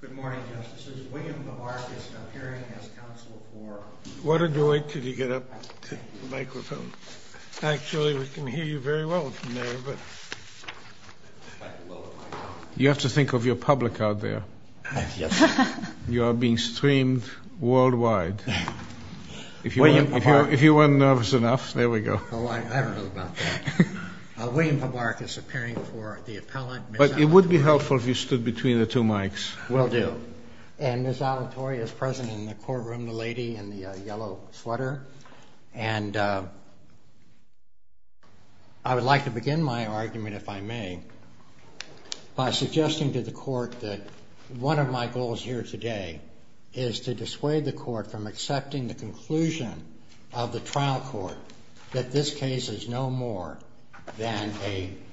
Good morning, Justices. William Pabarchus appearing as counsel for... Why don't you wait till you get up to the microphone. Actually, we can hear you very well from there, but... You have to think of your public out there. You are being streamed worldwide. If you weren't nervous enough, there we go. Oh, I don't know about that. William Pabarchus appearing for the appellant... But it would be helpful if you stood between the two mics. Will do. And Ms. Alatorre is present in the courtroom, the lady in the yellow sweater. And I would like to begin my argument, if I may, by suggesting to the court that one of my goals here today is to dissuade the court from accepting the conclusion of the trial court that this case is no more than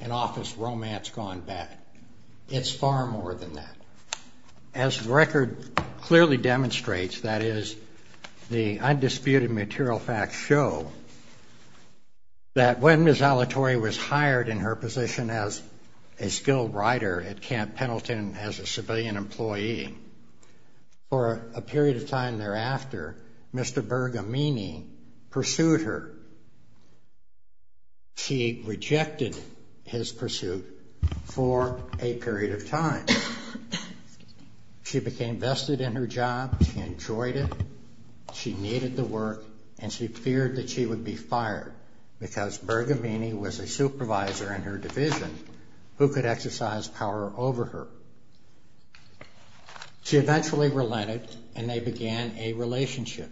an office romance gone bad. It's far more than that. As the record clearly demonstrates, that is, the undisputed material facts show, that when Ms. Alatorre was hired in her position as a skilled rider at Camp Pendleton as a civilian employee, for a period of time thereafter, Mr. Bergamini pursued her. She rejected his pursuit for a period of time. She became vested in her job. She enjoyed it. She needed the work. And she feared that she would be fired because Bergamini was a supervisor in her division who could exercise power over her. She eventually relented, and they began a relationship.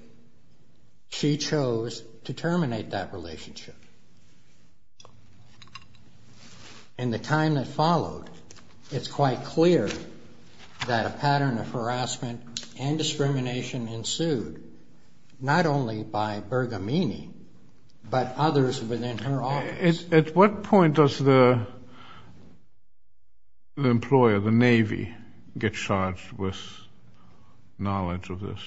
She chose to terminate that relationship. In the time that followed, it's quite clear that a pattern of harassment and discrimination ensued, not only by Bergamini but others within her office. At what point does the employer, the Navy, get charged with knowledge of this?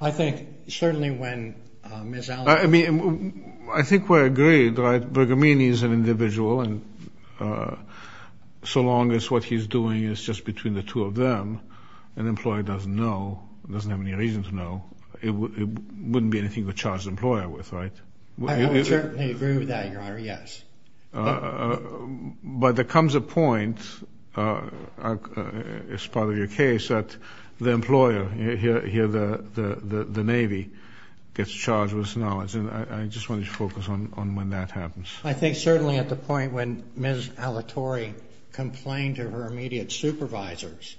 I think certainly when Ms. Alatorre... I mean, I think we're agreed, right? Bergamini is an individual, and so long as what he's doing is just between the two of them, an employer doesn't know, doesn't have any reason to know, it wouldn't be anything to charge the employer with, right? I would certainly agree with that, Your Honor, yes. But there comes a point, as part of your case, that the employer, here the Navy, gets charged with this knowledge, and I just want you to focus on when that happens. I think certainly at the point when Ms. Alatorre complained to her immediate supervisors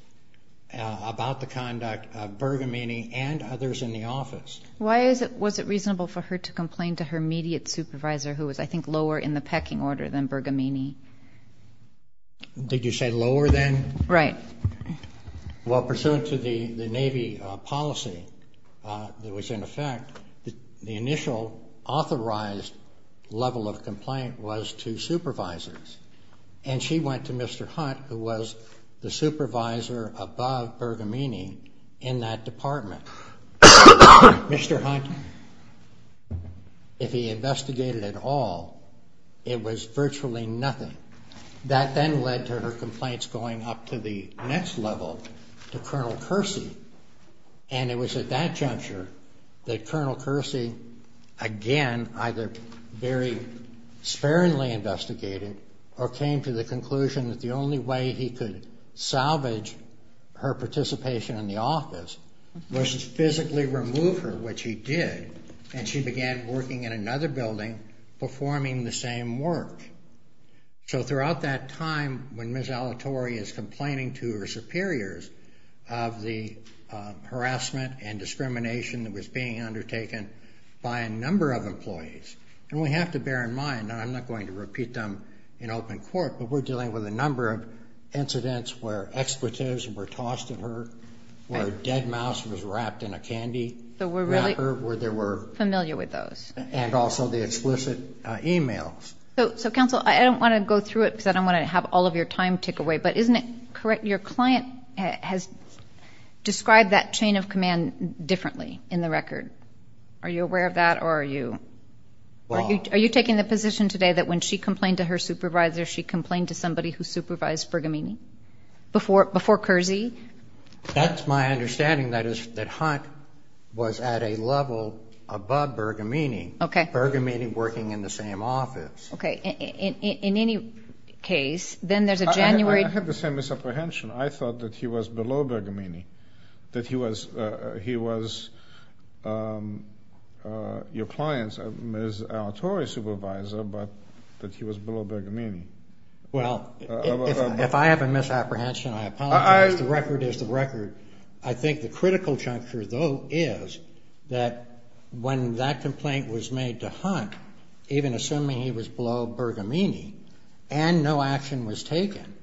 about the conduct of Bergamini and others in the office. Why was it reasonable for her to complain to her immediate supervisor, who was I think lower in the pecking order than Bergamini? Did you say lower than? Right. Well, pursuant to the Navy policy that was in effect, the initial authorized level of complaint was to supervisors, and she went to Mr. Hunt, who was the supervisor above Bergamini in that department. Mr. Hunt, if he investigated at all, it was virtually nothing. That then led to her complaints going up to the next level to Colonel Kersey, and it was at that juncture that Colonel Kersey, again, either very sparingly investigated or came to the conclusion that the only way he could salvage her participation in the office was to physically remove her, which he did, and she began working in another building performing the same work. So throughout that time when Ms. Alatorre is complaining to her superiors of the harassment and discrimination that was being undertaken by a number of employees, and we have to bear in mind, and I'm not going to repeat them in open court, but we're dealing with a number of incidents where expletives were tossed at her, where a dead mouse was wrapped in a candy wrapper, where there were and also the explicit e-mails. So, Counsel, I don't want to go through it because I don't want to have all of your time tick away, but isn't it correct? Your client has described that chain of command differently in the record. Are you aware of that or are you taking the position today that when she complained to her supervisor, she complained to somebody who supervised Bergamini before Kersey? That's my understanding, that Hunt was at a level above Bergamini. Okay. Bergamini working in the same office. Okay. In any case, then there's a January. I have the same misapprehension. I thought that he was below Bergamini, that he was your client's Ms. Alatorre supervisor, but that he was below Bergamini. Well, if I have a misapprehension, I apologize. The record is the record. I think the critical juncture, though, is that when that complaint was made to Hunt, even assuming he was below Bergamini and no action was taken,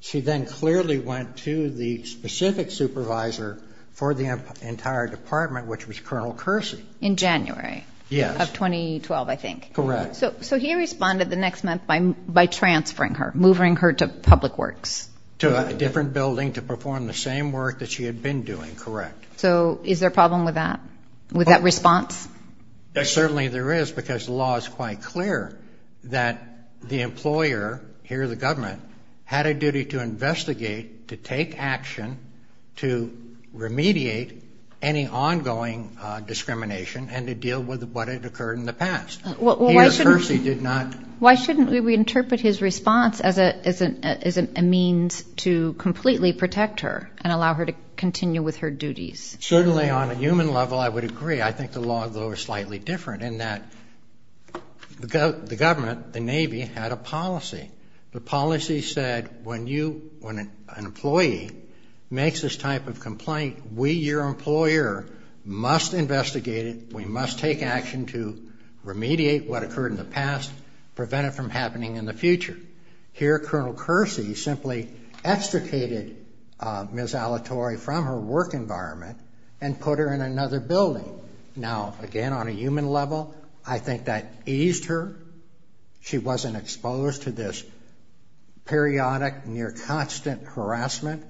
she then clearly went to the specific supervisor for the entire department, which was Colonel Kersey. In January of 2012, I think. Correct. So he responded the next month by transferring her, moving her to public works. To a different building to perform the same work that she had been doing, correct. So is there a problem with that, with that response? Certainly there is because the law is quite clear that the employer, here the government, had a duty to investigate, to take action, to remediate any ongoing discrimination and to deal with what had occurred in the past. Peter Kersey did not. Why shouldn't we interpret his response as a means to completely protect her and allow her to continue with her duties? Certainly on a human level I would agree. I think the law, though, is slightly different in that the government, the Navy, had a policy. We, your employer, must investigate it. We must take action to remediate what occurred in the past, prevent it from happening in the future. Here Colonel Kersey simply extricated Ms. Alettori from her work environment and put her in another building. Now, again, on a human level, I think that eased her. She wasn't exposed to this periodic, near constant harassment,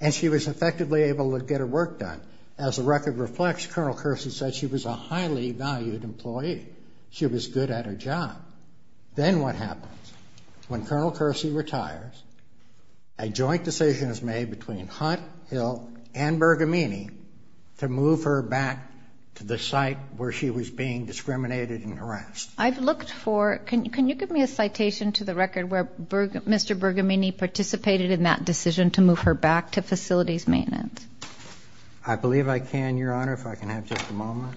and she was effectively able to get her work done. As the record reflects, Colonel Kersey said she was a highly valued employee. She was good at her job. Then what happens? When Colonel Kersey retires, a joint decision is made between Hunt, Hill, and Bergamini to move her back to the site where she was being discriminated and harassed. I've looked for, can you give me a citation to the record where Mr. Bergamini participated in that decision to move her back to facilities maintenance? I believe I can, Your Honor, if I can have just a moment.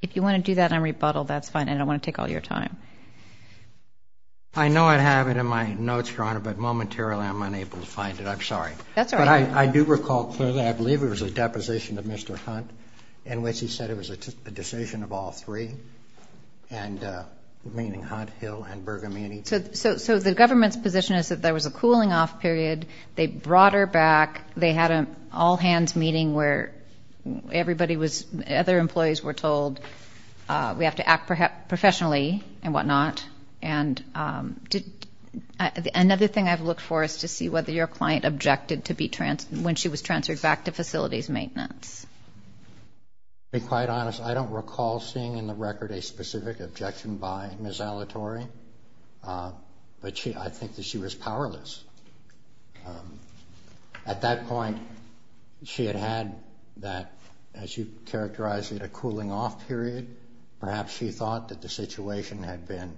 If you want to do that on rebuttal, that's fine. I don't want to take all your time. I know I have it in my notes, Your Honor, but momentarily I'm unable to find it. I'm sorry. That's all right. But I do recall clearly, I believe it was a deposition of Mr. Hunt in which he said it was a decision of all three, meaning Hunt, Hill, and Bergamini. So the government's position is that there was a cooling off period. They brought her back. They had an all-hands meeting where everybody was, other employees were told, we have to act professionally and whatnot. And another thing I've looked for is to see whether your client objected when she was transferred back to facilities maintenance. To be quite honest, I don't recall seeing in the record a specific objection by Ms. Alatore, but I think that she was powerless. At that point, she had had that, as you characterized it, a cooling off period. Perhaps she thought that the situation had been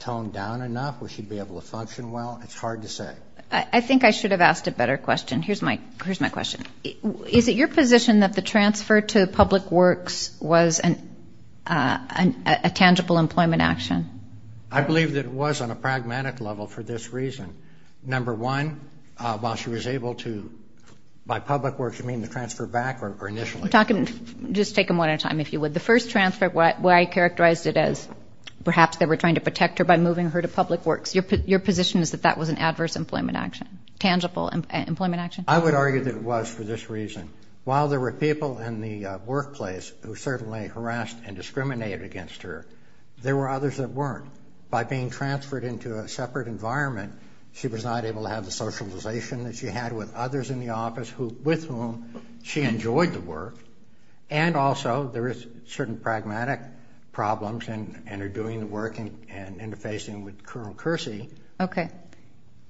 toned down enough where she'd be able to function well. It's hard to say. I think I should have asked a better question. Here's my question. Is it your position that the transfer to public works was a tangible employment action? I believe that it was on a pragmatic level for this reason. Number one, while she was able to, by public works you mean the transfer back or initially? Just take them one at a time, if you would. The first transfer, where I characterized it as perhaps they were trying to protect her by moving her to public works, your position is that that was an adverse employment action, tangible employment action? I would argue that it was for this reason. While there were people in the workplace who certainly harassed and discriminated against her, there were others that weren't. By being transferred into a separate environment, she was not able to have the socialization that she had with others in the office with whom she enjoyed the work, and also there is certain pragmatic problems in her doing the work and interfacing with Colonel Kersey. Okay.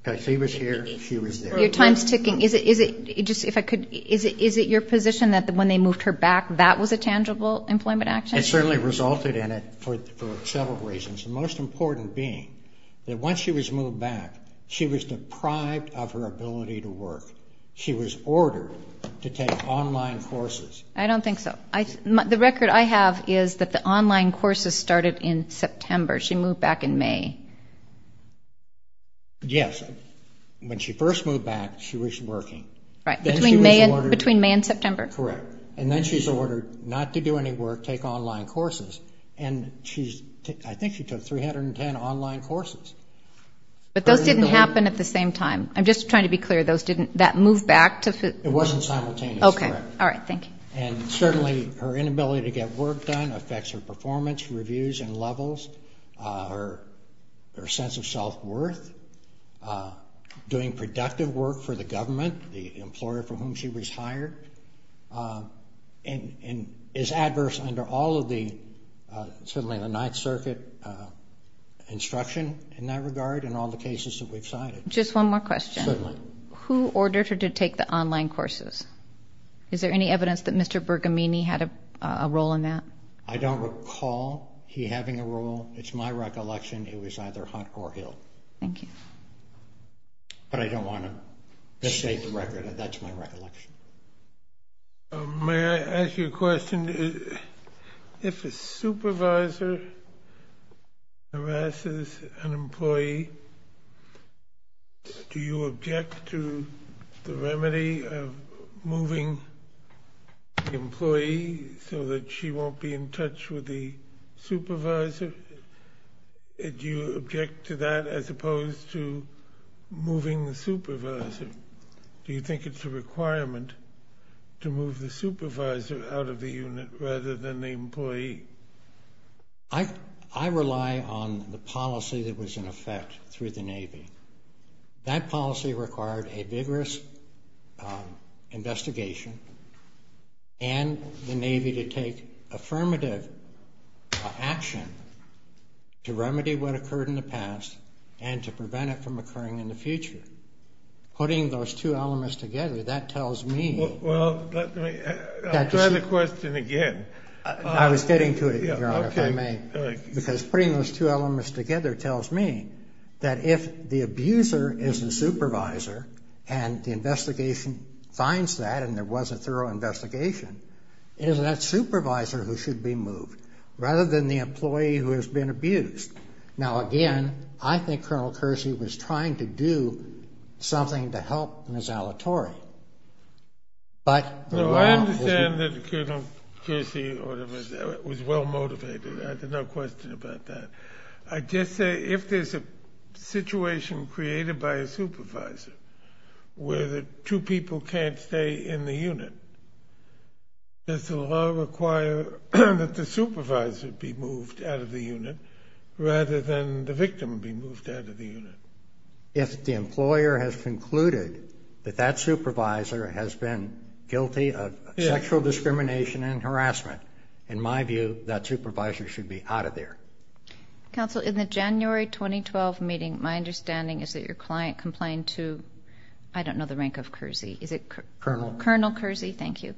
Because he was here, she was there. Your time is ticking. Is it your position that when they moved her back, that was a tangible employment action? It certainly resulted in it for several reasons, the most important being that once she was moved back, she was deprived of her ability to work. She was ordered to take online courses. I don't think so. The record I have is that the online courses started in September. She moved back in May. Yes. When she first moved back, she was working. Right. Between May and September. Correct. And then she was ordered not to do any work, take online courses, and I think she took 310 online courses. But those didn't happen at the same time. I'm just trying to be clear. Those didn't, that moved back to? It wasn't simultaneous, correct. Okay. All right. Thank you. And certainly her inability to get work done affects her performance, reviews and levels, her sense of self-worth, doing productive work for the government, the employer for whom she was hired, and is adverse under all of the, certainly in the Ninth Circuit, instruction in that regard and all the cases that we've cited. Just one more question. Certainly. Who ordered her to take the online courses? Is there any evidence that Mr. Bergamini had a role in that? I don't recall he having a role. It's my recollection it was either Hunt or Hill. Thank you. But I don't want to misstate the record. That's my recollection. May I ask you a question? If a supervisor harasses an employee, do you object to the remedy of moving the employee so that she won't be in touch with the supervisor? Do you object to that as opposed to moving the supervisor? Do you think it's a requirement to move the supervisor out of the unit rather than the employee? I rely on the policy that was in effect through the Navy. That policy required a vigorous investigation and the Navy to take affirmative action to remedy what occurred in the past and to prevent it from occurring in the future. Putting those two elements together, that tells me that the... Well, let me try the question again. I was getting to it, Your Honor, if I may. Because putting those two elements together tells me that if the abuser is the supervisor and the investigation finds that and there was a thorough investigation, it is that supervisor who should be moved rather than the employee who has been abused. Now, again, I think Colonel Kersey was trying to do something to help Ms. Alatorre. No, I understand that Colonel Kersey was well-motivated. I have no question about that. I just say if there's a situation created by a supervisor where the two people can't stay in the unit, does the law require that the supervisor be moved out of the unit rather than the victim be moved out of the unit? If the employer has concluded that that supervisor has been guilty of sexual discrimination and harassment, in my view, that supervisor should be out of there. Counsel, in the January 2012 meeting, my understanding is that your client complained to, I don't know the rank of Kersey, is it... Colonel. Colonel Kersey, thank you,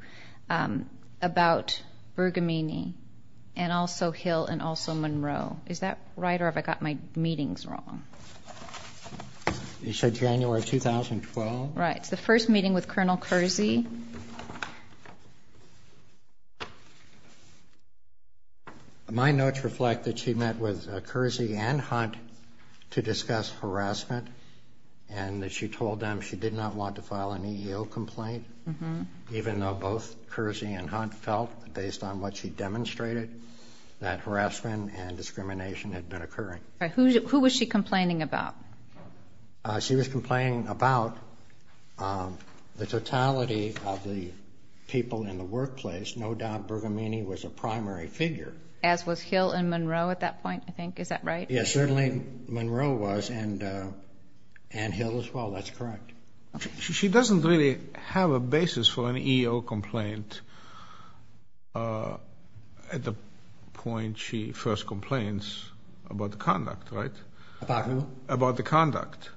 about Bergamini and also Hill and also Monroe. Is that right or have I got my meetings wrong? You said January 2012? Right, it's the first meeting with Colonel Kersey. My notes reflect that she met with Kersey and Hunt to discuss harassment and that she told them she did not want to file an EEO complaint, even though both Kersey and Hunt felt, based on what she demonstrated, that harassment and discrimination had been occurring. Who was she complaining about? She was complaining about the totality of the people in the workplace. No doubt Bergamini was a primary figure. As was Hill and Monroe at that point, I think. Is that right? Yes, certainly Monroe was and Hill as well. That's correct. She doesn't really have a basis for an EEO complaint at the point she first complains about the conduct, right? About who? About the conduct.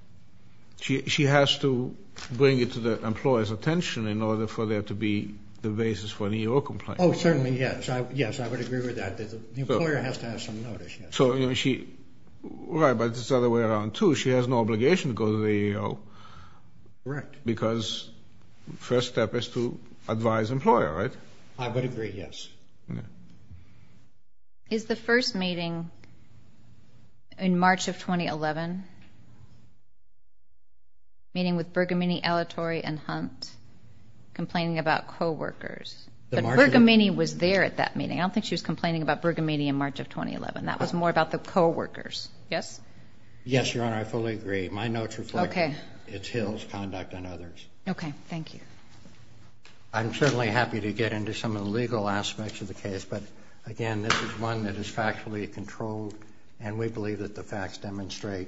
She has to bring it to the employer's attention in order for there to be the basis for an EEO complaint. Oh, certainly, yes. Yes, I would agree with that. The employer has to have some notice. Right, but it's the other way around, too. She has no obligation to go to the EEO because the first step is to advise the employer, right? I would agree, yes. Is the first meeting in March of 2011, meeting with Bergamini, Alettori, and Hunt, complaining about coworkers? But Bergamini was there at that meeting. I don't think she was complaining about Bergamini in March of 2011. That was more about the coworkers. Yes? Yes, Your Honor, I fully agree. My notes reflect Ms. Hill's conduct and others'. Okay, thank you. I'm certainly happy to get into some of the legal aspects of the case, but, again, this is one that is factually controlled, and we believe that the facts demonstrate,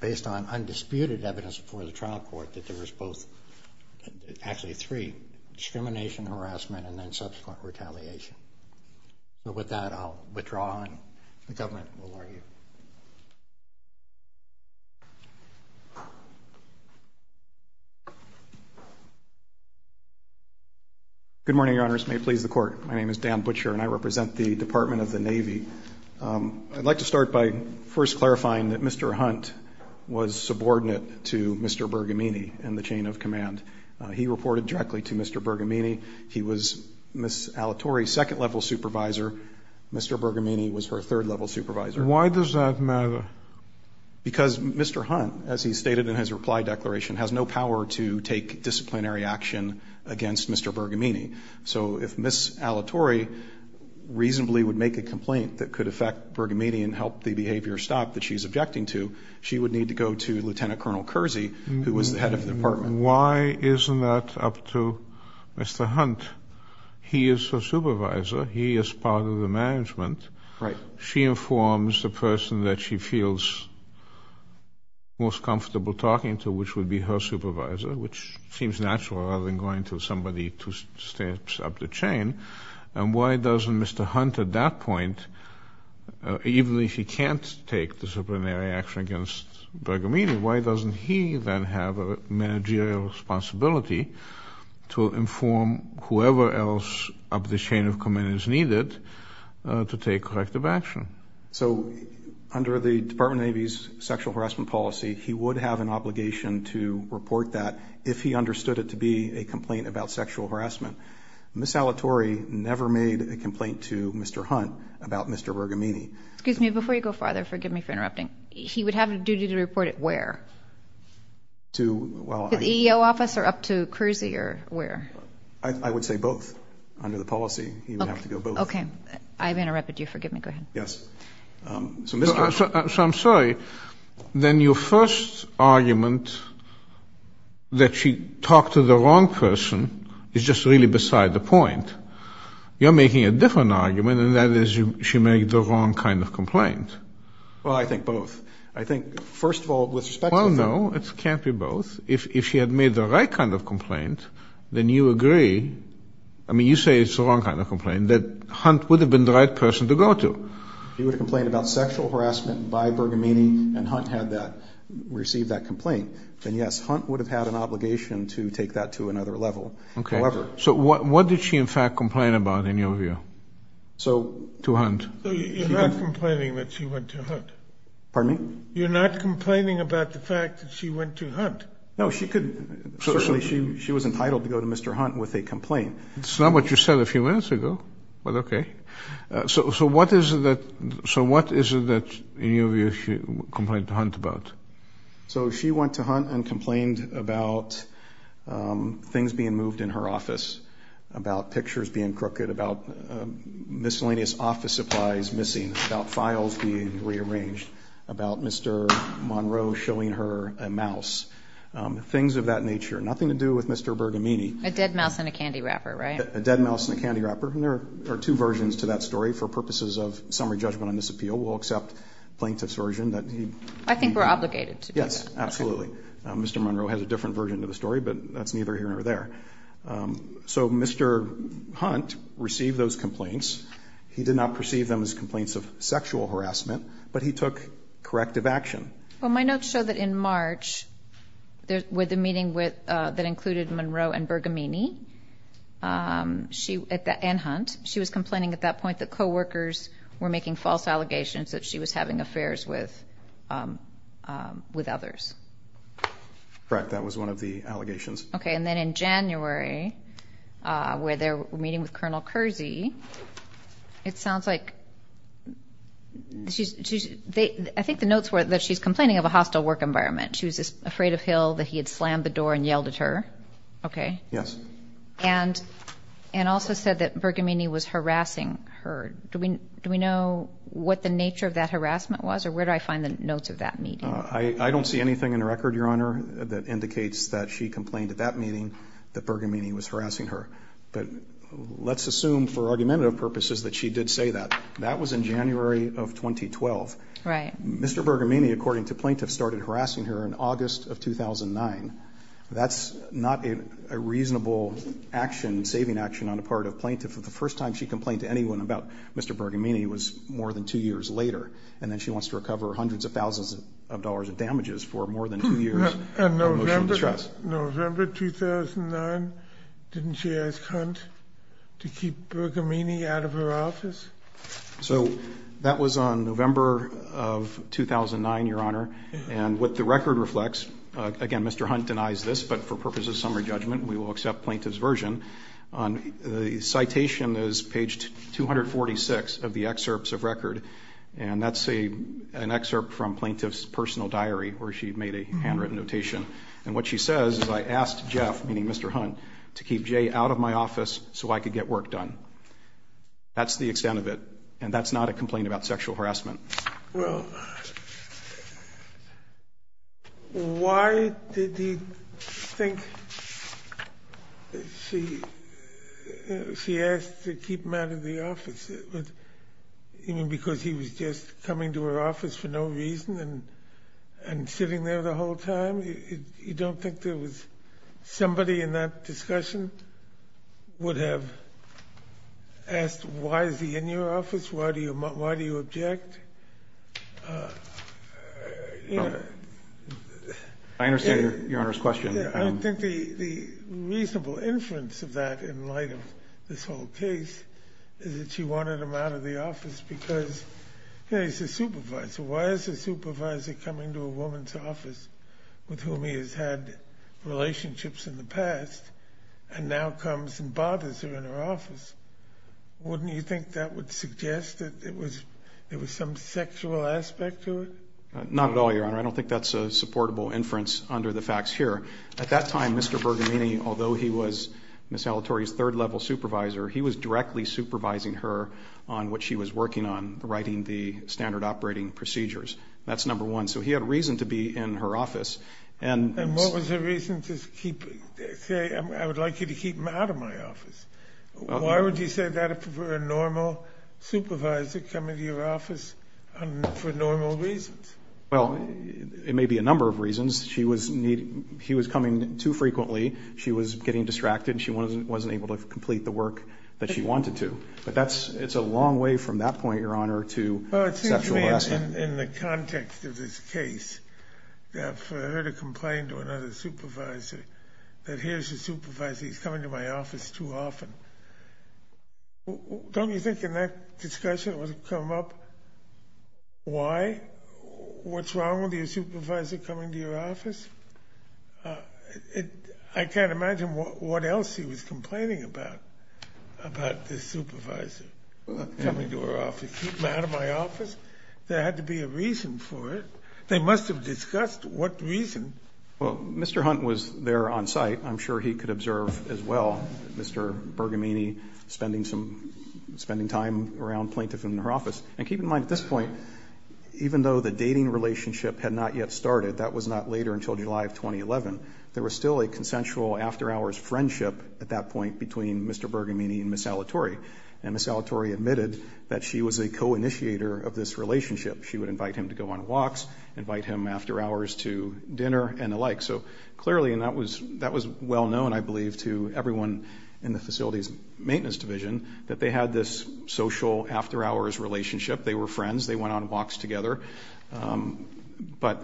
based on undisputed evidence before the trial court, that there was both, actually three, discrimination, harassment, and then subsequent retaliation. With that, I'll withdraw, and the government will argue. Good morning, Your Honors. May it please the Court. My name is Dan Butcher, and I represent the Department of the Navy. I'd like to start by first clarifying that Mr. Hunt was subordinate to Mr. Bergamini in the chain of command. He reported directly to Mr. Bergamini. He was Ms. Alatore's second-level supervisor. Mr. Bergamini was her third-level supervisor. Why does that matter? Because Mr. Hunt, as he stated in his reply declaration, has no power to take disciplinary action against Mr. Bergamini. So if Ms. Alatore reasonably would make a complaint that could affect Bergamini and help the behavior stop that she's objecting to, she would need to go to Lieutenant Colonel Kersey, who was the head of the department. And why isn't that up to Mr. Hunt? He is her supervisor. He is part of the management. She informs the person that she feels most comfortable talking to, which would be her supervisor, which seems natural rather than going to somebody two steps up the chain. And why doesn't Mr. Hunt at that point, even if he can't take disciplinary action against Bergamini, why doesn't he then have a managerial responsibility to inform whoever else up the chain of command is needed to take corrective action? So under the Department of the Navy's sexual harassment policy, he would have an obligation to report that if he understood it to be a complaint about sexual harassment. Ms. Alatore never made a complaint to Mr. Hunt about Mr. Bergamini. Excuse me. Before you go farther, forgive me for interrupting. He would have a duty to report it where? To the EEO office or up to Kersey or where? I would say both. Under the policy, he would have to go both. Okay. I've interrupted you. Forgive me. Go ahead. Yes. So I'm sorry. Then your first argument that she talked to the wrong person is just really beside the point. You're making a different argument, and that is she made the wrong kind of complaint. Well, I think both. I think, first of all, with respect to her. Well, no. It can't be both. If she had made the right kind of complaint, then you agree. I mean, you say it's the wrong kind of complaint, that Hunt would have been the right person to go to. He would have complained about sexual harassment by Bergamini, and Hunt had received that complaint. Then, yes, Hunt would have had an obligation to take that to another level. Okay. So what did she, in fact, complain about, in your view, to Hunt? You're not complaining that she went to Hunt. Pardon me? You're not complaining about the fact that she went to Hunt. No, she could. Certainly, she was entitled to go to Mr. Hunt with a complaint. It's not what you said a few minutes ago, but okay. So what is it that, in your view, she complained to Hunt about? So she went to Hunt and complained about things being moved in her office, about pictures being crooked, about miscellaneous office supplies missing, about files being rearranged, about Mr. Monroe showing her a mouse, things of that nature. Nothing to do with Mr. Bergamini. A dead mouse in a candy wrapper, right? A dead mouse in a candy wrapper. And there are two versions to that story. For purposes of summary judgment on this appeal, we'll accept plaintiff's version. I think we're obligated to do that. Yes, absolutely. Mr. Monroe has a different version to the story, but that's neither here nor there. So Mr. Hunt received those complaints. He did not perceive them as complaints of sexual harassment, but he took corrective action. Well, my notes show that in March, with the meeting that included Monroe and Bergamini and Hunt, she was complaining at that point that coworkers were making false allegations that she was having affairs with others. Correct. That was one of the allegations. Okay. And then in January, where they're meeting with Colonel Kersey, it sounds like she's ‑‑ I think the notes were that she's complaining of a hostile work environment. She was afraid of Hill, that he had slammed the door and yelled at her. Okay. Yes. And also said that Bergamini was harassing her. Do we know what the nature of that harassment was, or where do I find the notes of that meeting? I don't see anything in the record, Your Honor, that indicates that she complained at that meeting that Bergamini was harassing her. But let's assume for argumentative purposes that she did say that. That was in January of 2012. Right. Mr. Bergamini, according to plaintiffs, started harassing her in August of 2009. That's not a reasonable action, saving action on the part of plaintiffs. The first time she complained to anyone about Mr. Bergamini was more than two years later. And then she wants to recover hundreds of thousands of dollars in damages for more than two years. And November 2009, didn't she ask Hunt to keep Bergamini out of her office? So that was on November of 2009, Your Honor. And what the record reflects, again, Mr. Hunt denies this, but for purposes of summary judgment we will accept plaintiff's version. The citation is page 246 of the excerpts of record. And that's an excerpt from plaintiff's personal diary where she made a handwritten notation. And what she says is, I asked Jeff, meaning Mr. Hunt, to keep Jay out of my office so I could get work done. That's the extent of it. And that's not a complaint about sexual harassment. Well, why did he think she asked to keep him out of the office? You mean because he was just coming to her office for no reason and sitting there the whole time? You don't think there was somebody in that discussion would have asked, why is he in your office? Why do you object? I understand Your Honor's question. I don't think the reasonable inference of that in light of this whole case is that she wanted him out of the office because, you know, he's a supervisor. Why is a supervisor coming to a woman's office with whom he has had relationships in the past and now comes and bothers her in her office? Wouldn't you think that would suggest that there was some sexual aspect to it? Not at all, Your Honor. I don't think that's a supportable inference under the facts here. At that time, Mr. Bergamini, although he was Ms. Salatori's third-level supervisor, he was directly supervising her on what she was working on, writing the standard operating procedures. That's number one. So he had reason to be in her office. And what was the reason to say, I would like you to keep him out of my office? Why would you say that if it were a normal supervisor coming to your office for normal reasons? Well, it may be a number of reasons. She was coming too frequently, she was getting distracted, and she wasn't able to complete the work that she wanted to. But it's a long way from that point, Your Honor, to sexual harassment. Well, it seems to me in the context of this case that for her to complain to another supervisor that here's the supervisor, he's coming to my office too often, don't you think in that discussion it would have come up why? What's wrong with your supervisor coming to your office? I can't imagine what else he was complaining about, about this supervisor coming to her office. Keep him out of my office? There had to be a reason for it. They must have discussed what reason. Well, Mr. Hunt was there on site. I'm sure he could observe as well Mr. Bergamini spending time around plaintiff in her office. And keep in mind at this point, even though the dating relationship had not yet started, that was not later until July of 2011, there was still a consensual after-hours friendship at that point between Mr. Bergamini and Ms. Salatori. And Ms. Salatori admitted that she was a co-initiator of this relationship. She would invite him to go on walks, invite him after-hours to dinner and the like. So clearly that was well known, I believe, to everyone in the facilities maintenance division that they had this social after-hours relationship. They were friends. They went on walks together. But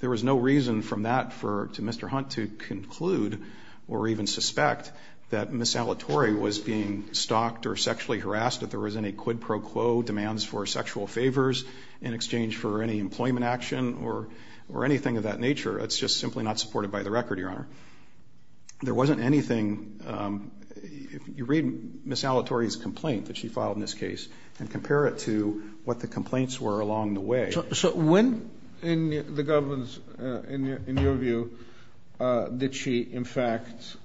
there was no reason from that to Mr. Hunt to conclude or even suspect that Ms. Salatori was being stalked or sexually harassed if there was any quid pro quo demands for sexual favors in exchange for any employment action or anything of that nature. It's just simply not supported by the record, Your Honor. There wasn't anything. You read Ms. Salatori's complaint that she filed in this case and compare it to what the complaints were along the way. So when in the government's, in your view, did she in fact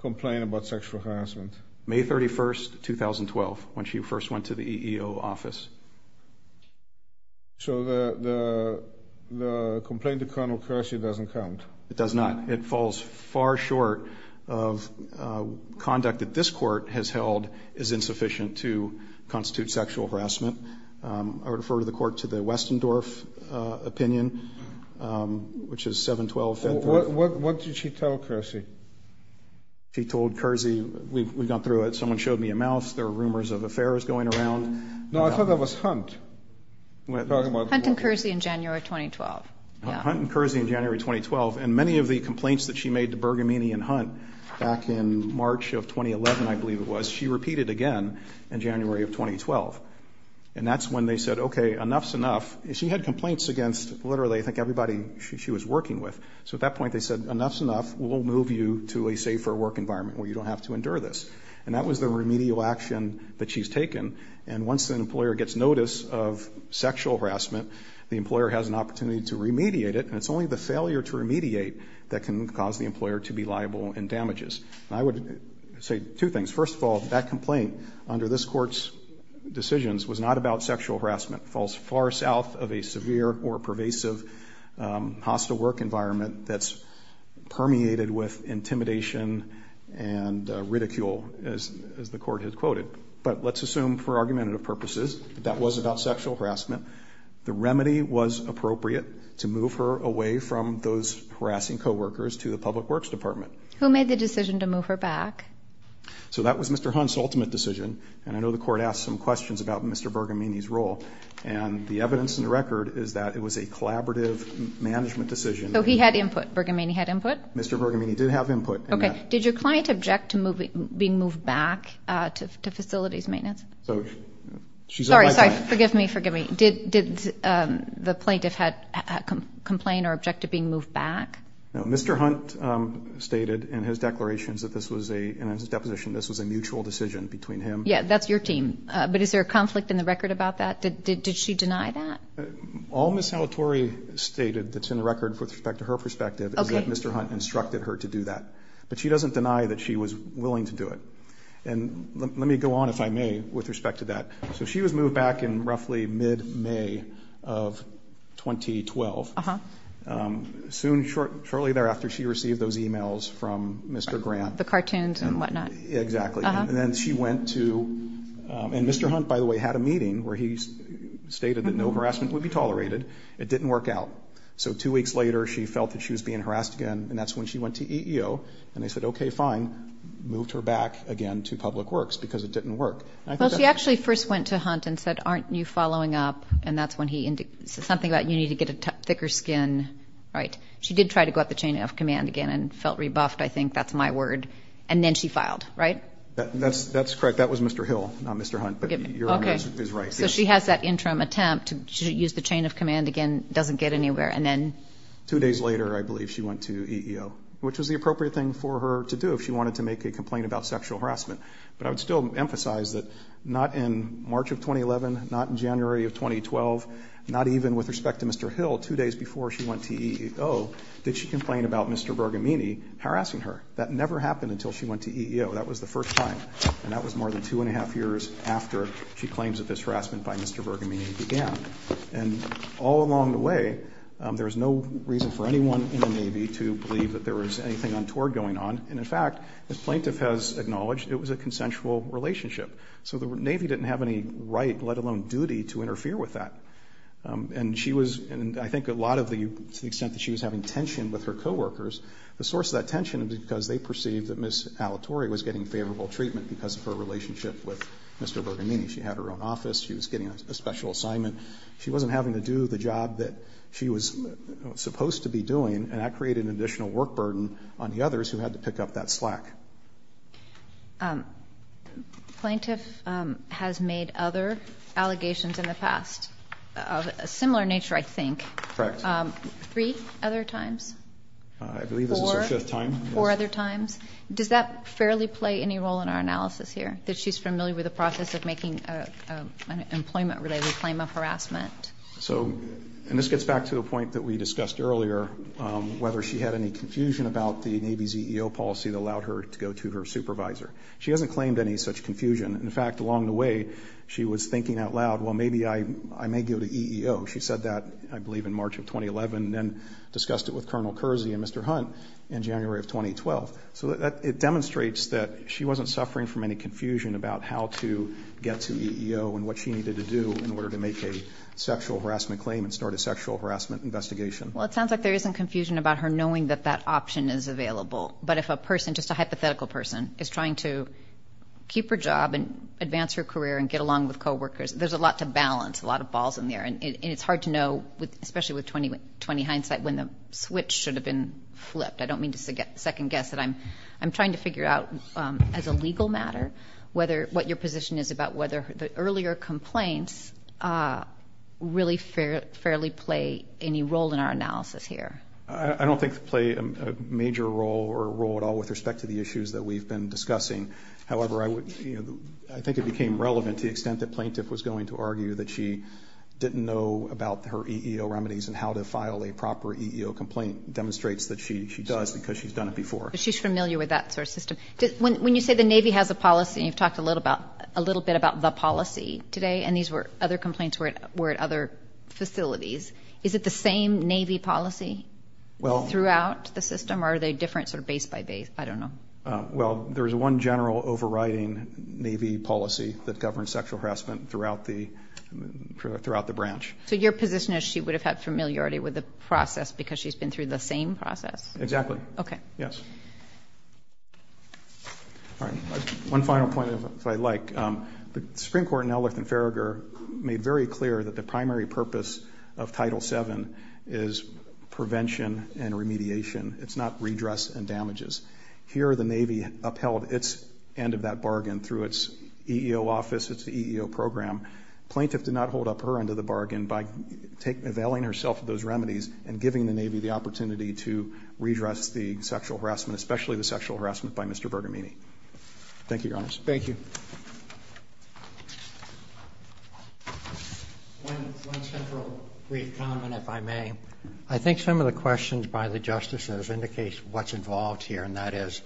complain about sexual harassment? May 31st, 2012, when she first went to the EEO office. So the complaint to Colonel Kersey doesn't count? It does not. It falls far short of conduct that this court has held is insufficient to constitute sexual harassment. I would refer the court to the Westendorf opinion, which is 7-12. What did she tell Kersey? She told Kersey, we've gone through it, someone showed me a mouse, there were rumors of affairs going around. No, I thought that was Hunt. Hunt and Kersey in January 2012. Hunt and Kersey in January 2012. And many of the complaints that she made to Bergamini and Hunt back in March of 2011, I believe it was, she repeated again in January of 2012. And that's when they said, okay, enough's enough. She had complaints against literally I think everybody she was working with. So at that point they said, enough's enough. We'll move you to a safer work environment where you don't have to endure this. And that was the remedial action that she's taken. And once an employer gets notice of sexual harassment, the employer has an opportunity to remediate it. And it's only the failure to remediate that can cause the employer to be liable in damages. And I would say two things. First of all, that complaint under this court's decisions was not about sexual harassment. It falls far south of a severe or pervasive hostile work environment that's permeated with intimidation and ridicule, as the court had quoted. But let's assume for argumentative purposes that that was about sexual harassment. The remedy was appropriate to move her away from those harassing coworkers to the public works department. Who made the decision to move her back? So that was Mr. Hunt's ultimate decision. And I know the court asked some questions about Mr. Bergamini's role. And the evidence in the record is that it was a collaborative management decision. So he had input? Bergamini had input? Mr. Bergamini did have input. Okay. Did your client object to being moved back to facilities maintenance? Sorry, sorry. Forgive me, forgive me. Did the plaintiff complain or object to being moved back? No, Mr. Hunt stated in his declarations that this was a, in his deposition, this was a mutual decision between him. Yeah, that's your team. But is there a conflict in the record about that? Did she deny that? All Ms. Salatori stated that's in the record with respect to her perspective is that Mr. Hunt instructed her to do that. But she doesn't deny that she was willing to do it. And let me go on, if I may, with respect to that. So she was moved back in roughly mid-May of 2012. Uh-huh. Soon, shortly thereafter, she received those e-mails from Mr. Grant. The cartoons and whatnot. Exactly. Uh-huh. And then she went to, and Mr. Hunt, by the way, had a meeting where he stated that no harassment would be tolerated. It didn't work out. So two weeks later, she felt that she was being harassed again, and that's when she went to EEO. And they said, okay, fine, moved her back again to public works because it didn't work. Well, she actually first went to Hunt and said, aren't you following up? And that's when he said something about you need to get a thicker skin. Right. She did try to go up the chain of command again and felt rebuffed, I think. That's my word. And then she filed, right? That's correct. That was Mr. Hill, not Mr. Hunt. But your image is right. Okay. So she has that interim attempt to use the chain of command again. Doesn't get anywhere. And then? Two days later, I believe, she went to EEO, which was the appropriate thing for her to do if she wanted to make a complaint about sexual harassment. But I would still emphasize that not in March of 2011, not in January of 2012, not even with respect to Mr. Hill, two days before she went to EEO, did she complain about Mr. Bergamini harassing her. That never happened until she went to EEO. That was the first time. And that was more than two and a half years after she claims that this harassment by Mr. Bergamini began. And all along the way, there was no reason for anyone in the Navy to believe that there was anything untoward going on. And, in fact, as plaintiff has acknowledged, it was a consensual relationship. So the Navy didn't have any right, let alone duty, to interfere with that. And she was, and I think a lot of the, to the extent that she was having tension with her coworkers, the source of that tension was because they perceived that Ms. Alatore was getting favorable treatment because of her relationship with Mr. Bergamini. She had her own office. She was getting a special assignment. She wasn't having to do the job that she was supposed to be doing. And that created an additional work burden on the others who had to pick up that slack. Plaintiff has made other allegations in the past of a similar nature, I think. Correct. Three other times? I believe this is her fifth time. Four other times? Does that fairly play any role in our analysis here, that she's familiar with the process of making an employment-related claim of harassment? So, and this gets back to the point that we discussed earlier, whether she had any confusion about the Navy's EEO policy that allowed her to go to her supervisor. She hasn't claimed any such confusion. In fact, along the way, she was thinking out loud, well, maybe I may go to EEO. She said that, I believe, in March of 2011 and then discussed it with Colonel Kersey and Mr. Hunt in January of 2012. So it demonstrates that she wasn't suffering from any confusion about how to get to EEO and what she needed to do in order to make a sexual harassment claim and start a sexual harassment investigation. Well, it sounds like there isn't confusion about her knowing that that option is available. But if a person, just a hypothetical person, is trying to keep her job and advance her career and get along with coworkers, there's a lot to balance, a lot of balls in there. And it's hard to know, especially with 20 hindsight, when the switch should have been flipped. I don't mean to second-guess, but I'm trying to figure out, as a legal matter, what your position is about whether the earlier complaints really fairly play any role in our analysis here. I don't think they play a major role or a role at all with respect to the issues that we've been discussing. However, I think it became relevant to the extent that Plaintiff was going to argue that she didn't know about her EEO remedies and how to file a proper EEO complaint demonstrates that she does because she's done it before. She's familiar with that sort of system. When you say the Navy has a policy, and you've talked a little bit about the policy today, and these were other complaints were at other facilities, is it the same Navy policy throughout the system, or are they different sort of base by base? I don't know. Well, there's one general overriding Navy policy that governs sexual harassment throughout the branch. So your position is she would have had familiarity with the process because she's been through the same process? Exactly. Okay. Yes. All right. One final point, if I like. The Supreme Court in Ellerth and Farragher made very clear that the primary purpose of Title VII is prevention and remediation. It's not redress and damages. Here the Navy upheld its end of that bargain through its EEO office, its EEO program. Plaintiff did not hold up her end of the bargain by availing herself of those remedies and giving the Navy the opportunity to redress the sexual harassment, especially the sexual harassment by Mr. Bergamini. Thank you, Your Honors. Thank you. One central brief comment, if I may. I think some of the questions by the justices indicates what's involved here, and that is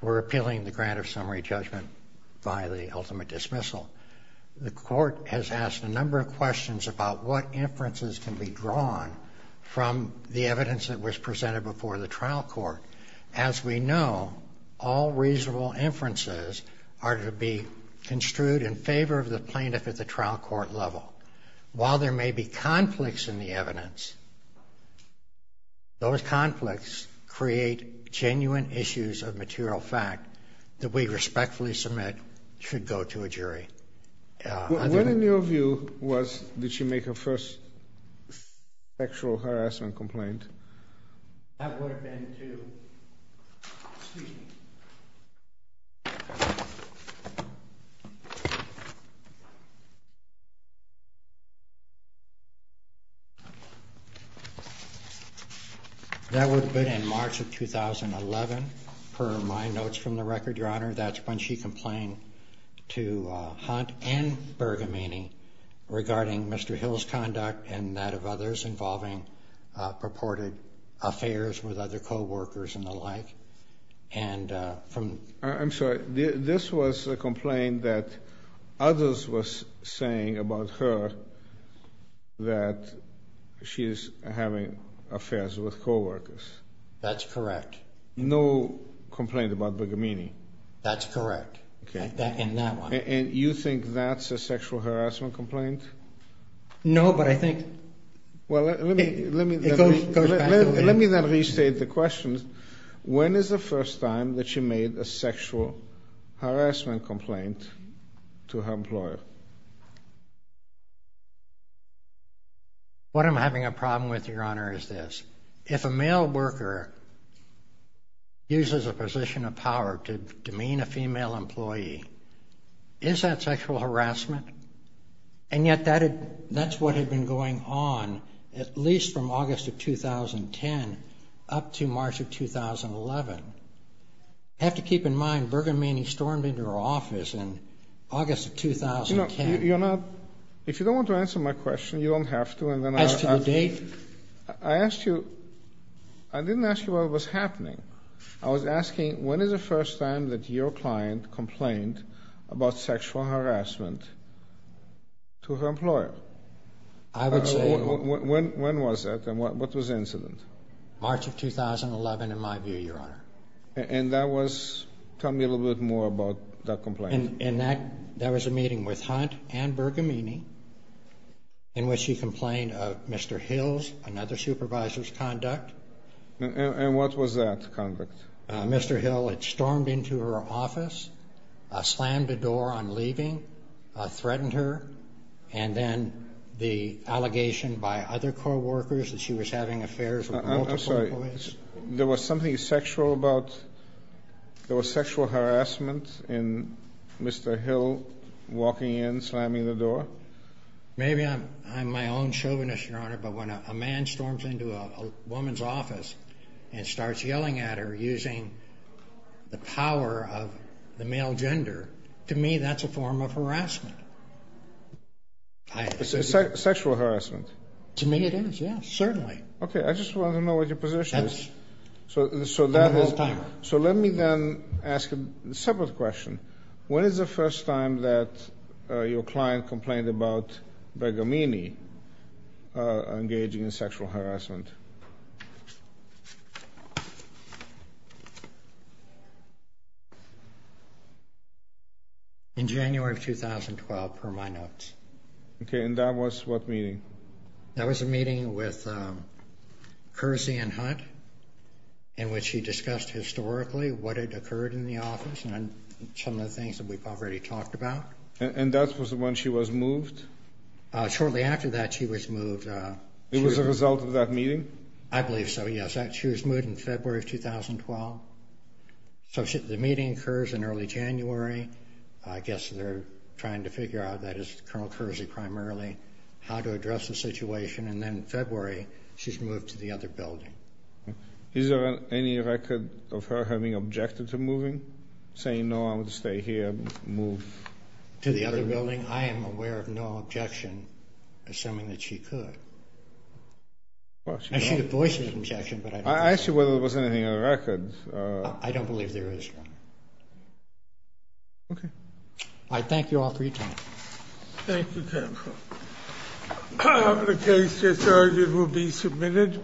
we're appealing the grant of summary judgment by the ultimate dismissal. The court has asked a number of questions about what inferences can be drawn from the evidence that was presented before the trial court. As we know, all reasonable inferences are to be construed in favor of the plaintiff at the trial court level. While there may be conflicts in the evidence, those conflicts create genuine issues of material fact that we respectfully submit should go to a jury. What in your view was, did she make her first sexual harassment complaint? That would have been to, excuse me. That would have been in March of 2011, per my notes from the record, Your Honor. That's when she complained to Hunt and Bergamini regarding Mr. Hill's conduct and that of others involving purported affairs with other coworkers and the like. I'm sorry. This was a complaint that others were saying about her that she's having affairs with coworkers. That's correct. No complaint about Bergamini. That's correct. Okay. In that one. And you think that's a sexual harassment complaint? No, but I think it goes back to... Let me then restate the question. When is the first time that she made a sexual harassment complaint to her employer? What I'm having a problem with, Your Honor, is this. If a male worker uses a position of power to demean a female employee, is that sexual harassment? And yet that's what had been going on at least from August of 2010 up to March of 2011. I have to keep in mind Bergamini stormed into her office in August of 2010. If you don't want to answer my question, you don't have to. As to the date? I didn't ask you what was happening. I was asking when is the first time that your client complained about sexual harassment to her employer? I would say... When was that and what was the incident? March of 2011, in my view, Your Honor. And that was... Tell me a little bit more about that complaint. And that was a meeting with Hunt and Bergamini in which she complained of Mr. Hills and other supervisors' conduct. And what was that conduct? Mr. Hill had stormed into her office, slammed the door on leaving, threatened her, and then the allegation by other co-workers that she was having affairs with multiple employees. I'm sorry. There was something sexual about... There was sexual harassment in Mr. Hill walking in, slamming the door? Maybe I'm my own chauvinist, Your Honor, but when a man storms into a woman's office and starts yelling at her using the power of the male gender, to me that's a form of harassment. Sexual harassment? To me it is, yes, certainly. Okay, I just wanted to know what your position is. So let me then ask a separate question. When is the first time that your client complained about Bergamini engaging in sexual harassment? In January of 2012, per my notes. Okay, and that was what meeting? That was a meeting with Kersey and Hunt in which she discussed historically what had occurred in the office. Some of the things that we've already talked about. And that was when she was moved? Shortly after that she was moved. It was a result of that meeting? I believe so, yes. She was moved in February of 2012. So the meeting occurs in early January. I guess they're trying to figure out, that is Colonel Kersey primarily, how to address the situation, and then in February she's moved to the other building. Is there any record of her having objected to moving? Saying, no, I'm going to stay here and move to the other building? I am aware of no objection, assuming that she could. I see the voice of objection, but I don't think so. I asked you whether there was anything on the record. I don't believe there is, Your Honor. I thank you all for your time. Thank you, counsel. The case, as urged, will be submitted.